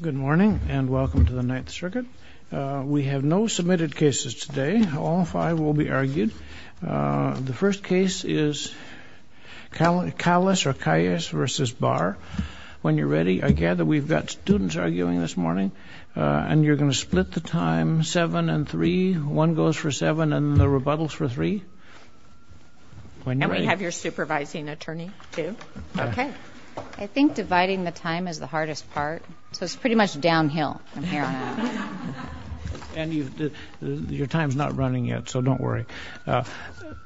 Good morning and welcome to the Ninth Circuit. We have no submitted cases today. All five will be argued. The first case is Calles or Calles v. Barr. When you're ready, I gather we've got students arguing this morning and you're going to split the time seven and three. One goes for seven and the rebuttal's for three. And we have your supervising attorney, too. Okay. I think dividing the time is the hardest part, so it's pretty much downhill from here on out. And your time's not running yet, so don't worry.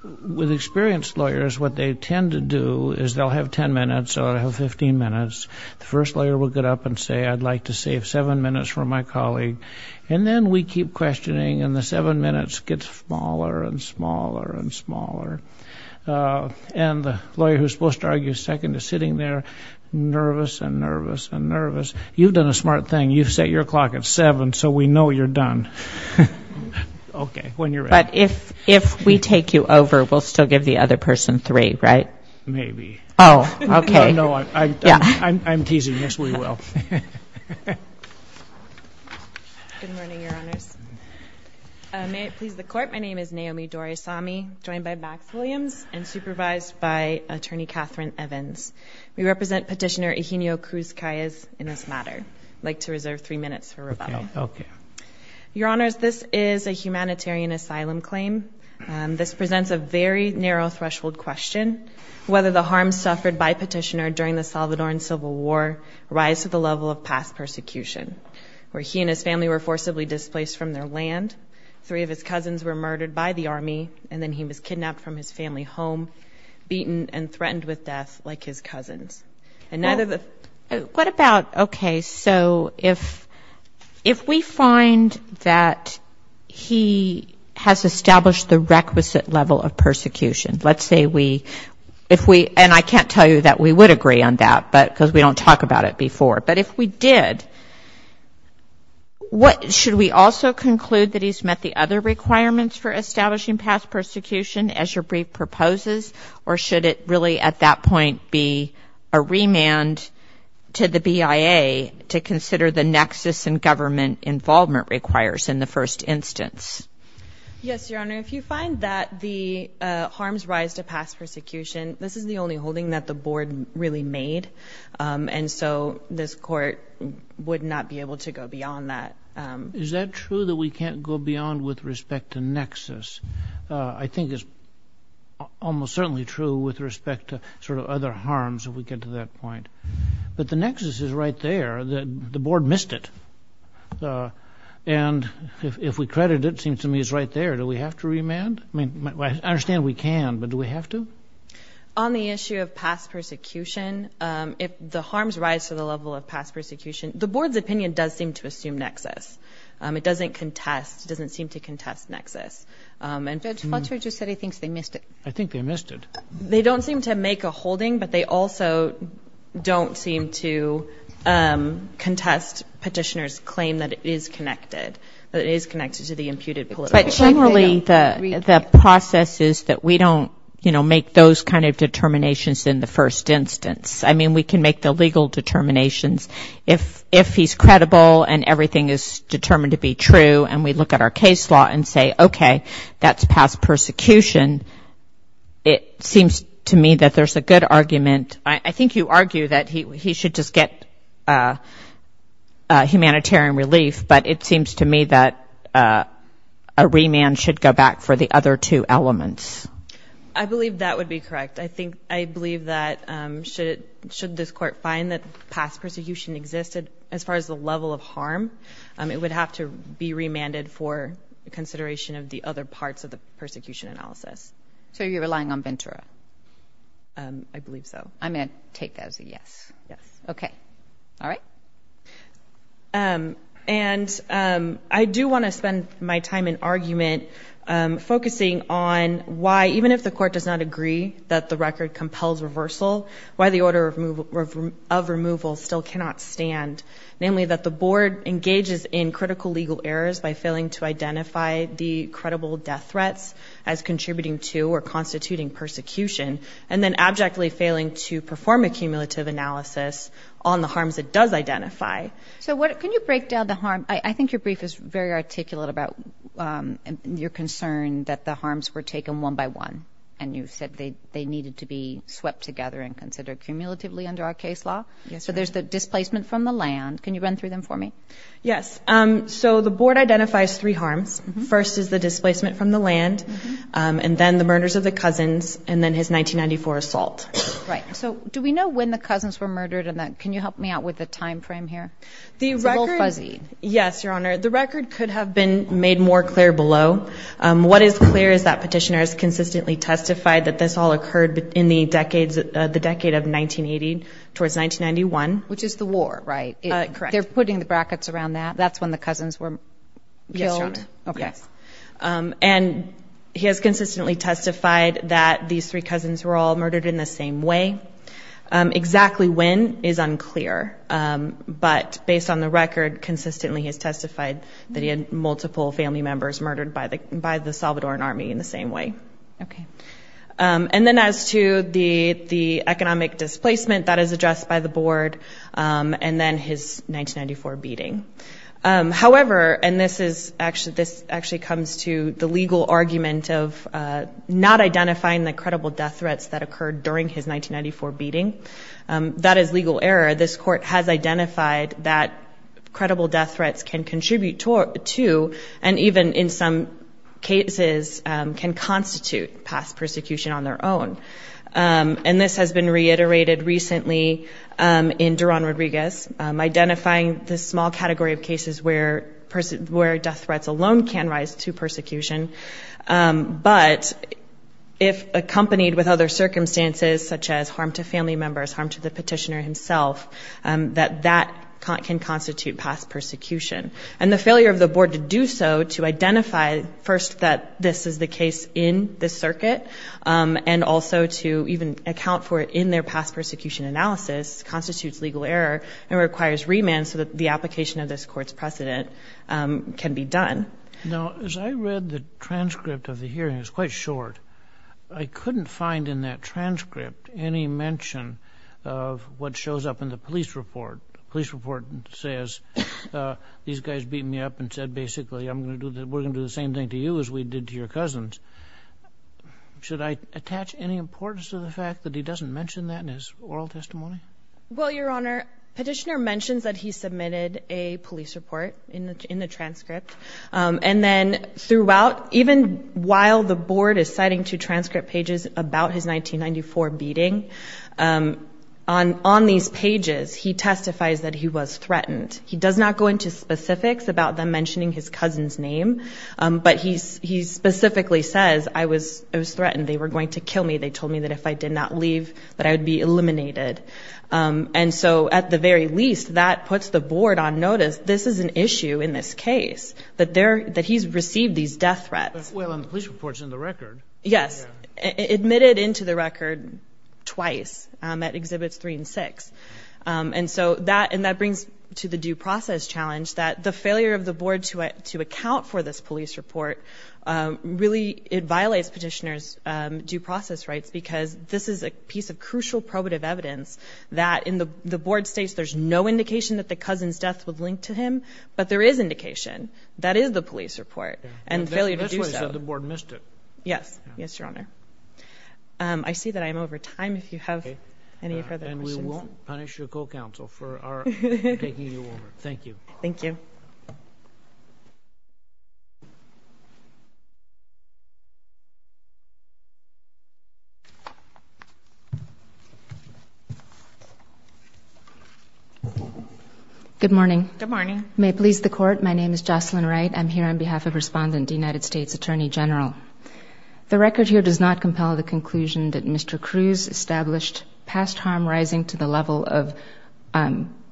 With experienced lawyers, what they tend to do is they'll have ten minutes or have 15 minutes. The first lawyer will get up and say, I'd like to save seven minutes for my colleague. And then we keep questioning and the seven minutes gets smaller and smaller and smaller. And the lawyer who's supposed to argue second is sitting there nervous and nervous and nervous. You've done a smart thing. You've set your clock at seven, so we know you're done. Okay. When you're ready. But if we take you over, we'll still give the other person three, right? Maybe. Oh, okay. No, I'm teasing. Yes, we will. Good morning, Your Honors. May it please the Court, my name is Naomi Doresami, joined by Max Williams and supervised by Attorney Catherine Evans. We represent Petitioner Eugenio Cruz-Calles in this matter. I'd like to reserve three minutes for rebuttal. Okay. Your Honors, this is a humanitarian asylum claim. This presents a very narrow threshold question. Whether the harms suffered by Petitioner during the Salvadoran Civil War rise to the level of past persecution, where he and his family were forcibly displaced from their land, three of his cousins were murdered by the army, and then he was kidnapped from his family home, beaten and threatened with death like his cousins. What about, okay, so if we find that he has established the requisite level of persecution, let's say we, and I can't tell you that we would agree on that because we don't talk about it before, but if we did, should we also conclude that he's met the other requirements for establishing past persecution as your brief proposes, or should it really at that point be a remand to the BIA to consider the nexus and government involvement requires in the first instance? Yes, Your Honor. If you find that the harms rise to past persecution, this is the only holding that the Board really made, and so this Court would not be able to go beyond that. Is that true that we can't go beyond with respect to nexus? I think it's almost certainly true with respect to sort of other harms if we get to that point, but the nexus is right there. The Board missed it, and if we credit it, it seems to me it's right there. Do we have to remand? I mean, I understand we can, but do we have to? On the issue of past persecution, if the harms rise to the level of past persecution, the Board's opinion does seem to assume nexus. It doesn't contest, doesn't seem to contest nexus. Judge Fletcher just said he thinks they missed it. I think they missed it. They don't seem to make a holding, but they also don't seem to contest Petitioner's claim that it is connected, that it is connected to the imputed political. But generally the process is that we don't, you know, make those kind of determinations in the first instance. I mean, we can make the legal determinations if he's credible and everything is determined to be true and we look at our case law and say, okay, that's past persecution. It seems to me that there's a good argument. I think you argue that he should just get humanitarian relief, but it seems to me that a remand should go back for the other two elements. I believe that would be correct. I believe that should this Court find that past persecution existed, as far as the level of harm, it would have to be remanded for consideration of the other parts of the persecution analysis. So you're relying on Ventura? I believe so. I'm going to take that as a yes. Yes. Okay. All right. And I do want to spend my time in argument focusing on why, even if the Court does not agree that the record compels reversal, why the order of removal still cannot stand, namely that the Board engages in critical legal errors by failing to identify the credible death threats as contributing to or constituting persecution and then abjectly failing to perform a cumulative analysis on the harms it does identify. So can you break down the harm? I think your brief is very articulate about your concern that the harms were taken one by one and you said they needed to be swept together and considered cumulatively under our case law. So there's the displacement from the land. Can you run through them for me? Yes. So the Board identifies three harms. First is the displacement from the land, and then the murders of the cousins, and then his 1994 assault. Right. So do we know when the cousins were murdered? Can you help me out with the time frame here? It's a little fuzzy. Yes, Your Honor. The record could have been made more clear below. What is clear is that petitioner has consistently testified that this all occurred in the decade of 1980 towards 1991. Which is the war, right? Correct. They're putting the brackets around that. That's when the cousins were killed? Yes, Your Honor. Okay. And he has consistently testified that these three cousins were all murdered in the same way. Exactly when is unclear, but based on the record, consistently he has testified that he had multiple family members murdered by the Salvadoran Army in the same way. Okay. And then as to the economic displacement, that is addressed by the Board, and then his 1994 beating. However, and this actually comes to the legal argument of not identifying the credible death threats that occurred during his 1994 beating. That is legal error. This court has identified that credible death threats can contribute to, and even in some cases, can constitute past persecution on their own. And this has been reiterated recently in Duran Rodriguez, identifying the small category of cases where death threats alone can rise to persecution. But if accompanied with other circumstances, such as harm to family members, harm to the petitioner himself, that that can constitute past persecution. And the failure of the Board to do so, to identify first that this is the case in the circuit, and also to even account for it in their past persecution analysis, constitutes legal error and requires remand so that the application of this court's precedent can be done. Now, as I read the transcript of the hearing, it's quite short. I couldn't find in that transcript any mention of what shows up in the police report. The police report says, these guys beat me up and said, basically, we're going to do the same thing to you as we did to your cousins. Should I attach any importance to the fact that he doesn't mention that in his oral testimony? Well, Your Honor, petitioner mentions that he submitted a police report in the transcript. And then throughout, even while the Board is citing two transcript pages about his 1994 beating, on these pages, he testifies that he was threatened. He does not go into specifics about them mentioning his cousin's name. But he specifically says, I was threatened. They were going to kill me. They told me that if I did not leave, that I would be eliminated. And so at the very least, that puts the Board on notice, this is an issue in this case, that he's received these death threats. Well, the police report's in the record. Yes. Admitted into the record twice, at Exhibits 3 and 6. And so that brings to the due process challenge that the failure of the Board to account for this police report, really it violates petitioner's due process rights because this is a piece of crucial probative evidence that the Board states there's no indication that the cousin's death was linked to him, but there is indication. That is the police report and failure to do so. So the Board missed it. Yes. Yes, Your Honor. I see that I am over time. If you have any further questions. And we won't punish your co-counsel for taking you over. Thank you. Thank you. Good morning. Good morning. May it please the Court, my name is Jocelyn Wright. I'm here on behalf of Respondent, United States Attorney General. The record here does not compel the conclusion that Mr. Cruz established past harm rising to the level of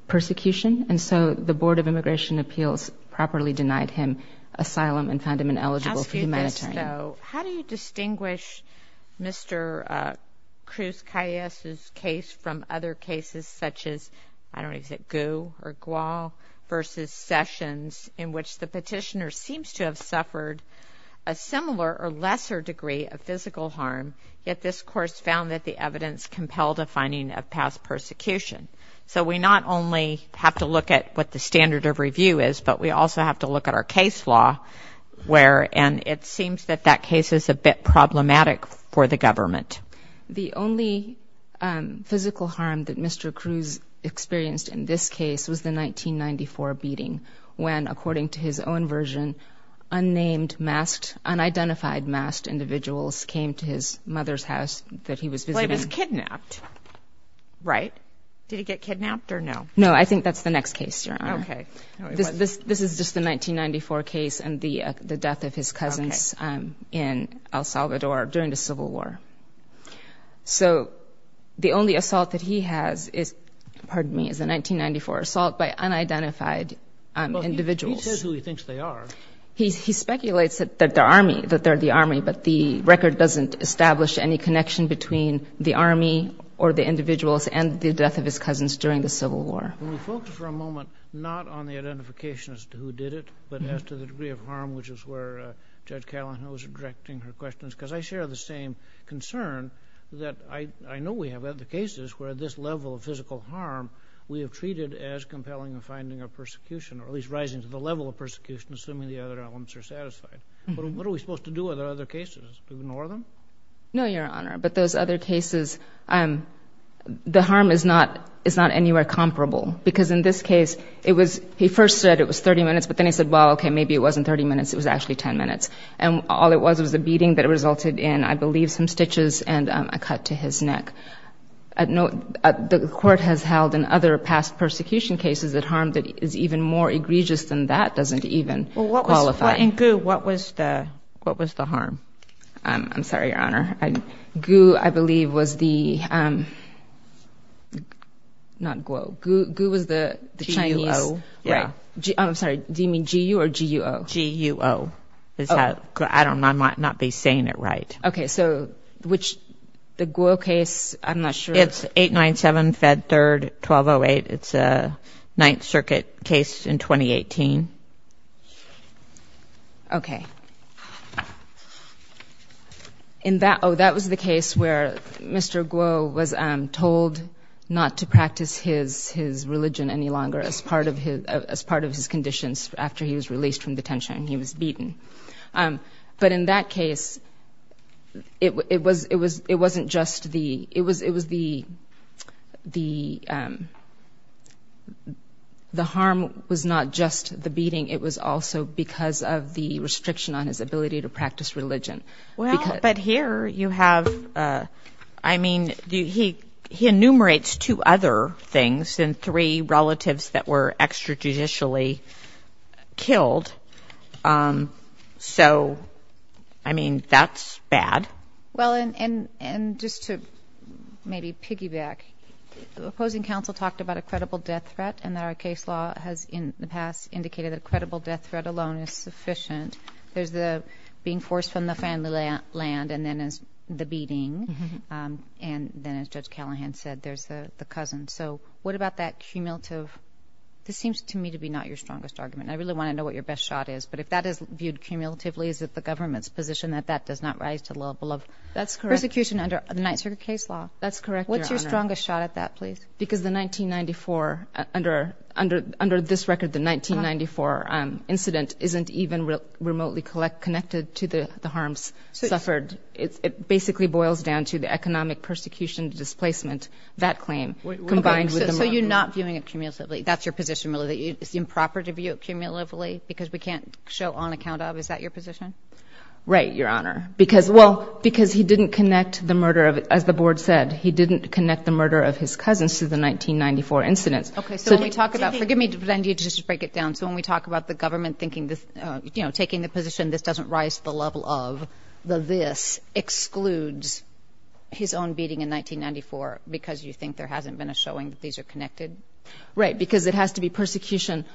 persecution. And so the Board of Immigration Appeals properly denied him asylum and found him ineligible for humanitarian aid. I'll ask you this, though. How do you distinguish Mr. Cruz-Calles' case from other cases such as, I don't know, is it Gu or Gual versus Sessions, in which the petitioner seems to have suffered a similar or lesser degree of physical harm, yet this course found that the evidence compelled a finding of past persecution? So we not only have to look at what the standard of review is, but we also have to look at our case law, and it seems that that case is a bit problematic for the government. The only physical harm that Mr. Cruz experienced in this case was the 1994 beating, when, according to his own version, unnamed, masked, unidentified masked individuals came to his mother's house that he was visiting. But he was kidnapped, right? Did he get kidnapped or no? No, I think that's the next case, Your Honor. Okay. This is just the 1994 case and the death of his cousins in El Salvador during the Civil War. So the only assault that he has is, pardon me, is a 1994 assault by unidentified individuals. He says who he thinks they are. He speculates that they're the Army, but the record doesn't establish any connection between the Army or the individuals and the death of his cousins during the Civil War. Can we focus for a moment not on the identification as to who did it, but as to the degree of harm, which is where Judge Callahan was directing her questions, because I share the same concern that I know we have other cases where this level of physical harm we have treated as compelling a finding of persecution, or at least rising to the level of persecution, assuming the other elements are satisfied. What are we supposed to do with other cases? Ignore them? No, Your Honor. But those other cases, the harm is not anywhere comparable, because in this case, it was he first said it was 30 minutes, but then he said, well, okay, maybe it wasn't 30 minutes. It was actually 10 minutes. And all it was was a beating that resulted in, I believe, some stitches and a cut to his neck. The court has held in other past persecution cases that harm that is even more egregious than that doesn't even qualify. Well, what was the harm? I'm sorry, Your Honor. Gu, I believe, was the – not Guo. Gu was the Chinese. GUO. I'm sorry. Do you mean GU or GUO? GUO is how – I don't know. I might not be saying it right. Okay. So which – the Guo case, I'm not sure. It's 897 Fed Third 1208. It's a Ninth Circuit case in 2018. Okay. In that – oh, that was the case where Mr. Guo was told not to practice his religion any longer as part of his conditions after he was released from detention and he was beaten. But in that case, it wasn't just the – it was the – the harm was not just the beating. It was also because of the restriction on his ability to practice religion. Well, but here you have – I mean, he enumerates two other things and three relatives that were extrajudicially killed. So, I mean, that's bad. Well, and just to maybe piggyback, the opposing counsel talked about a credible death threat and that our case law has in the past indicated that a credible death threat alone is sufficient. There's the being forced from the family land and then there's the beating. And then, as Judge Callahan said, there's the cousin. So what about that cumulative – this seems to me to be not your strongest argument. I really want to know what your best shot is. But if that is viewed cumulatively, is it the government's position that that does not rise to the level of – That's correct. – persecution under the Ninth Circuit case law? That's correct, Your Honor. What's your strongest shot at that, please? Because the 1994 – under this record, the 1994 incident isn't even remotely connected to the harms suffered. It basically boils down to the economic persecution, displacement, that claim combined with the murder. So you're not viewing it cumulatively? That's your position, really, that it's improper to view it cumulatively because we can't show on account of? Is that your position? Right, Your Honor. Because – well, because he didn't connect the murder of – as the board said, he didn't connect the murder of his cousins to the 1994 incidents. Okay. So when we talk about – forgive me to just break it down. So when we talk about the government thinking this – you know, taking the position this doesn't rise to the level of, the this excludes his own beating in 1994 because you think there hasn't been a showing that these are connected? Right, because it has to be persecution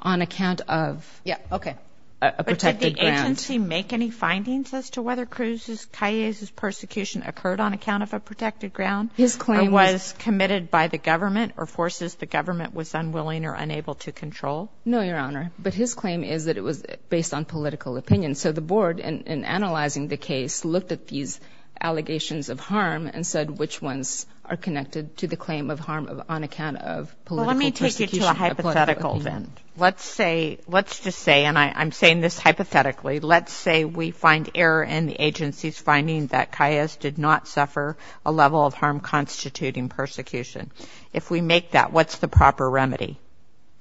on account of – Yeah, okay. – a protected ground. Did the agency make any findings as to whether Cruz's, Calles' persecution occurred on account of a protected ground? His claim is – Or was committed by the government or forces the government was unwilling or unable to control? No, Your Honor. But his claim is that it was based on political opinion. So the board, in analyzing the case, looked at these allegations of harm and said, which ones are connected to the claim of harm on account of political persecution? Well, let me take you to a hypothetical then. Let's say – let's just say, and I'm saying this hypothetically, let's say we find error in the agency's finding that Calles did not suffer a level of harm constituting persecution. If we make that, what's the proper remedy?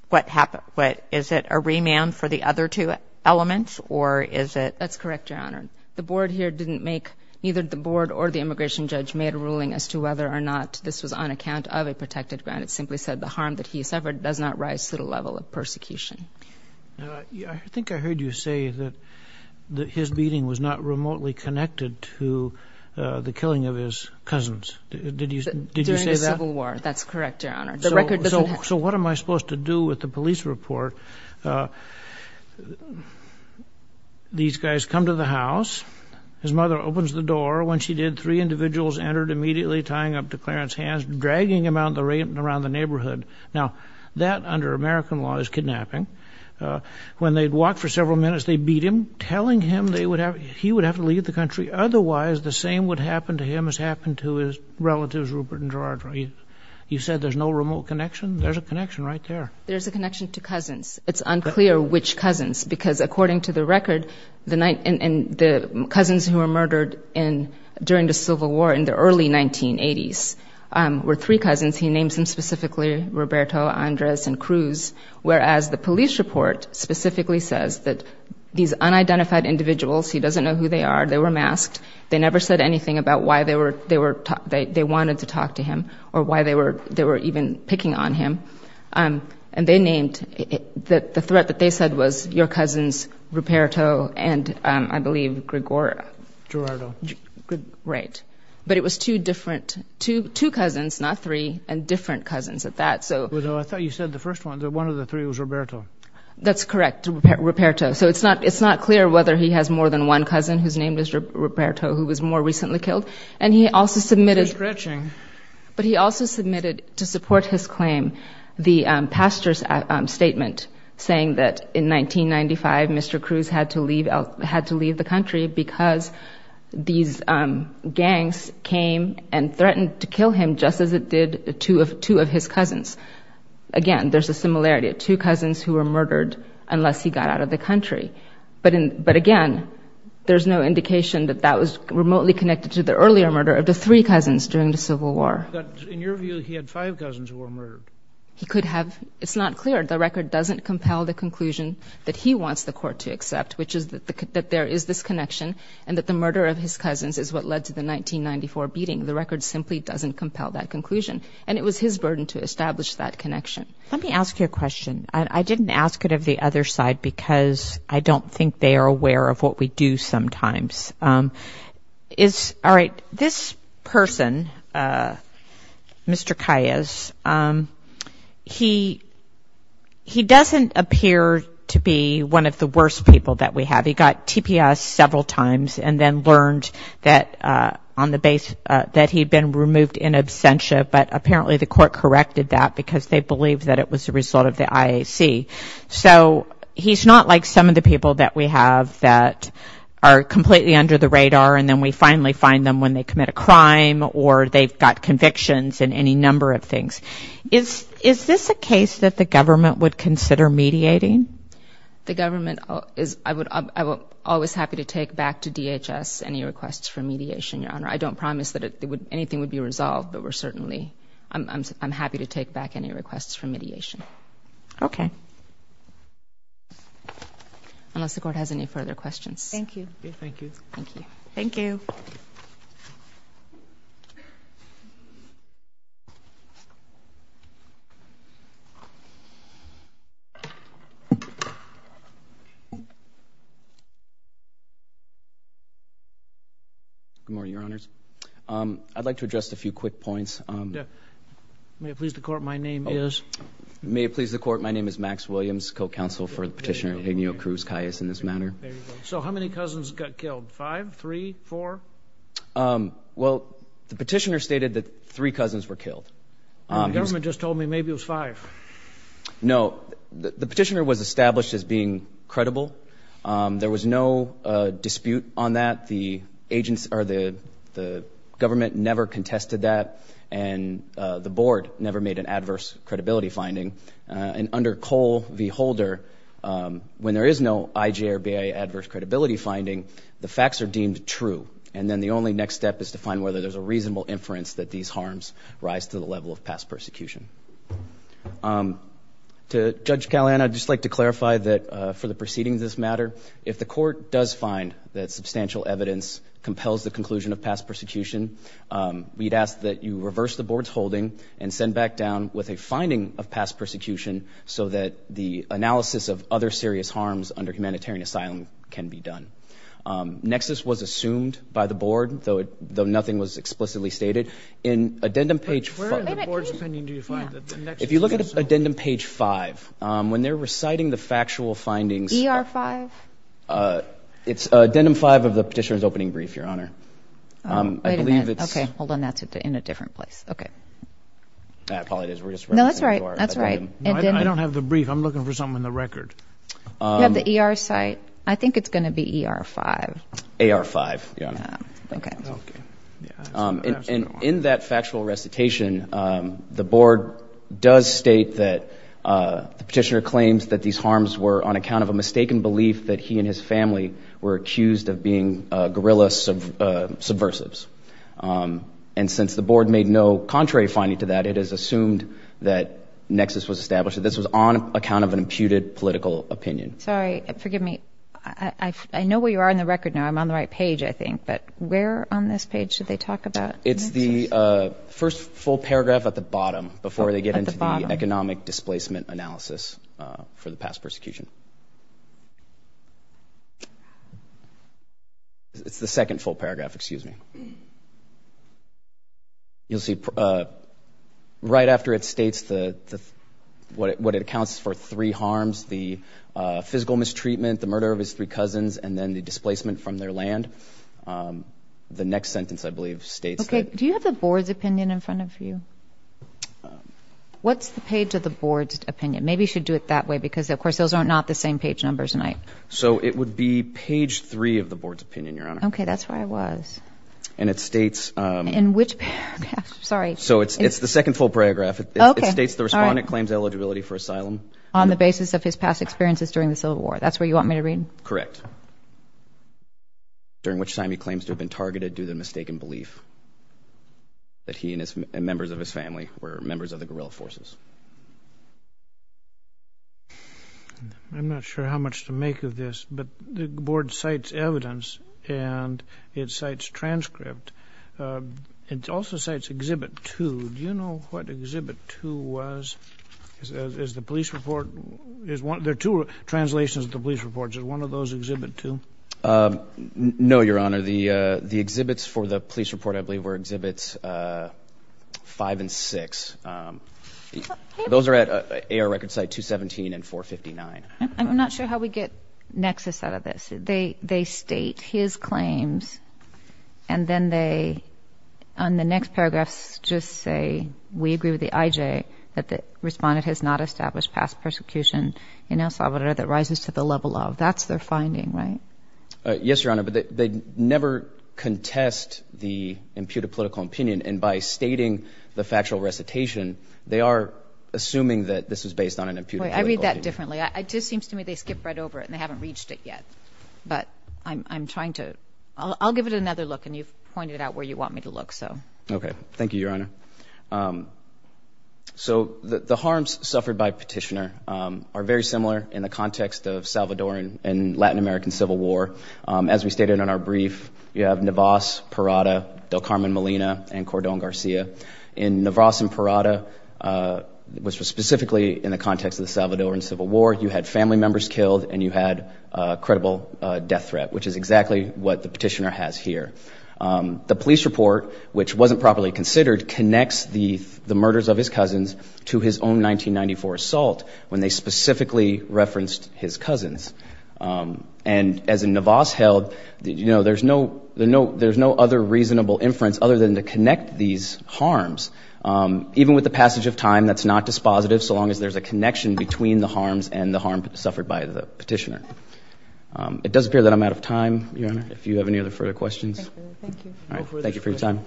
What – is it a remand for the other two elements or is it – That's correct, Your Honor. The board here didn't make – neither the board or the immigration judge made a ruling as to whether or not this was on account of a protected ground. It simply said the harm that he suffered does not rise to the level of persecution. I think I heard you say that his beating was not remotely connected to the killing of his cousins. Did you say that? During the Civil War. That's correct, Your Honor. The record doesn't have – So what am I supposed to do with the police report? These guys come to the house. His mother opens the door. When she did, three individuals entered immediately, tying up to Clarence's hands, dragging him around the neighborhood. Now, that under American law is kidnapping. When they'd walk for several minutes, they'd beat him, telling him they would have – he would have to leave the country. Otherwise, the same would happen to him as happened to his relatives, Rupert and George. You said there's no remote connection? There's a connection right there. There's a connection to cousins. It's unclear which cousins because according to the record, the cousins who were murdered during the Civil War in the early 1980s were three cousins. He names them specifically, Roberto, Andres, and Cruz, whereas the police report specifically says that these unidentified individuals – he doesn't know who they are. They were masked. They never said anything about why they wanted to talk to him or why they were even picking on him. And they named – the threat that they said was your cousins, Roberto and, I believe, Gregorio. Gerardo. Right. But it was two different – two cousins, not three, and different cousins at that. Although I thought you said the first one, that one of the three was Roberto. That's correct, Roberto. So it's not clear whether he has more than one cousin who's named as Roberto who was more recently killed. And he also submitted – They're scratching. But he also submitted to support his claim the pastor's statement saying that in 1995, Mr. Cruz had to leave the country because these gangs came and threatened to kill him just as it did two of his cousins. Again, there's a similarity of two cousins who were murdered unless he got out of the country. But, again, there's no indication that that was remotely connected to the earlier murder of the three cousins during the Civil War. But in your view, he had five cousins who were murdered. He could have – it's not clear. doesn't compel the conclusion that he wants the court to accept, which is that there is this connection and that the murder of his cousins is what led to the 1994 beating. The record simply doesn't compel that conclusion. And it was his burden to establish that connection. Let me ask you a question. I didn't ask it of the other side because I don't think they are aware of what we do sometimes. All right. This person, Mr. Calles, he doesn't appear to be one of the worst people that we have. He got TPS several times and then learned that on the – that he had been removed in absentia. But apparently the court corrected that because they believed that it was a result of the IAC. So he's not like some of the people that we have that are completely under the radar and then we finally find them when they commit a crime or they've got convictions and any number of things. Is this a case that the government would consider mediating? The government is – I would – I'm always happy to take back to DHS any requests for mediation, Your Honor. I don't promise that anything would be resolved, but we're certainly – I'm happy to take back any requests for mediation. Okay. Unless the court has any further questions. Thank you. Thank you. Thank you. Thank you. Good morning, Your Honors. I'd like to address a few quick points. May it please the court, my name is? May it please the court, my name is Max Williams, co-counsel for Petitioner Daniel Cruz-Cayas in this matter. So how many cousins got killed? Five? Three? Four? Well, the petitioner stated that three cousins were killed. The government just told me maybe it was five. No. The petitioner was established as being credible. There was no dispute on that. The government never contested that, and the board never made an adverse credibility finding. And under Cole v. Holder, when there is no IJ or BIA adverse credibility finding, the facts are deemed true. And then the only next step is to find whether there's a reasonable inference that these harms rise to the level of past persecution. To Judge Callahan, I'd just like to clarify that for the proceedings of this matter, if the court does find that substantial evidence compels the conclusion of past persecution, we'd ask that you reverse the board's holding and send back down with a finding of past persecution so that the analysis of other serious harms under humanitarian asylum can be done. Nexus was assumed by the board, though nothing was explicitly stated. In addendum page 5. Where in the board's opinion do you find that the nexus was assumed? If you look at addendum page 5, when they're reciting the factual findings. ER 5? It's addendum 5 of the petitioner's opening brief, Your Honor. Wait a minute. I believe it's. Okay, hold on. That's in a different place. Okay. It probably is. No, that's right. That's right. I don't have the brief. I'm looking for something in the record. You have the ER site? I think it's going to be ER 5. AR 5, Your Honor. Okay. Okay. And in that factual recitation, the board does state that the petitioner claims that these harms were on account of a mistaken belief that he and his family were accused of being guerrilla subversives. And since the board made no contrary finding to that, it is assumed that nexus was established. This was on account of an imputed political opinion. Sorry. Forgive me. I know where you are in the record now. I'm on the right page, I think. But where on this page should they talk about nexus? It's the first full paragraph at the bottom before they get into the economic displacement analysis for the past persecution. It's the second full paragraph. Excuse me. You'll see right after it states what it accounts for three harms, the physical mistreatment, the murder of his three cousins, and then the displacement from their land. The next sentence, I believe, states that. Okay. Do you have the board's opinion in front of you? What's the page of the board's opinion? Maybe you should do it that way because, of course, those are not the same page numbers. So it would be page three of the board's opinion, Your Honor. Okay. That's where I was. And it states. Sorry. So it's the second full paragraph. It states the respondent claims eligibility for asylum. On the basis of his past experiences during the Civil War. That's where you want me to read? Correct. During which time he claims to have been targeted due to mistaken belief that he and members of his family were members of the guerrilla forces. I'm not sure how much to make of this, but the board cites evidence and it cites transcript. It also cites Exhibit 2. Do you know what Exhibit 2 was? Is the police report? There are two translations of the police reports. Is one of those Exhibit 2? No, Your Honor. The exhibits for the police report, I believe, were Exhibits 5 and 6. Those are at AR Record Site 217 and 459. I'm not sure how we get nexus out of this. They state his claims and then they, on the next paragraphs, just say, we agree with the IJ that the respondent has not established past persecution in El Salvador that rises to the level of. That's their finding, right? Yes, Your Honor, but they never contest the imputed political opinion, and by stating the factual recitation, they are assuming that this is based on an imputed political opinion. I read that differently. It just seems to me they skipped right over it and they haven't reached it yet. But I'm trying to – I'll give it another look, and you've pointed out where you want me to look, so. Okay. Thank you, Your Honor. So the harms suffered by Petitioner are very similar in the context of Salvadoran and Latin American Civil War. As we stated in our brief, you have Navas, Parada, Del Carmen Molina, and Cordon Garcia. In Navas and Parada, which was specifically in the context of the Salvadoran Civil War, you had family members killed and you had a credible death threat, which is exactly what the Petitioner has here. The police report, which wasn't properly considered, connects the murders of his cousins to his own 1994 assault when they specifically referenced his cousins. And as Navas held, you know, there's no other reasonable inference other than to connect these harms. Even with the passage of time, that's not dispositive so long as there's a connection between the harms and the harm suffered by the Petitioner. It does appear that I'm out of time, Your Honor, if you have any other further questions. Thank you for your time.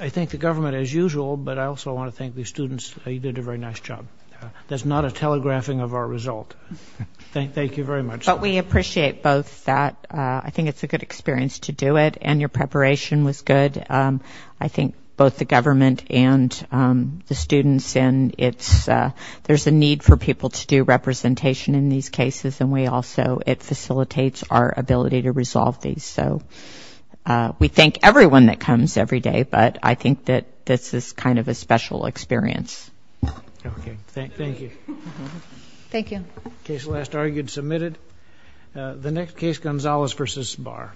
I thank the government as usual, but I also want to thank the students. You did a very nice job. That's not a telegraphing of our result. Thank you very much. But we appreciate both that. I think it's a good experience to do it, and your preparation was good. I think both the government and the students, and there's a need for people to do representation in these cases, and we also, it facilitates our ability to resolve these. So we thank everyone that comes every day, but I think that this is kind of a special experience. Okay. Thank you. Thank you. Case last argued, submitted. The next case, Gonzalez v. Sbar.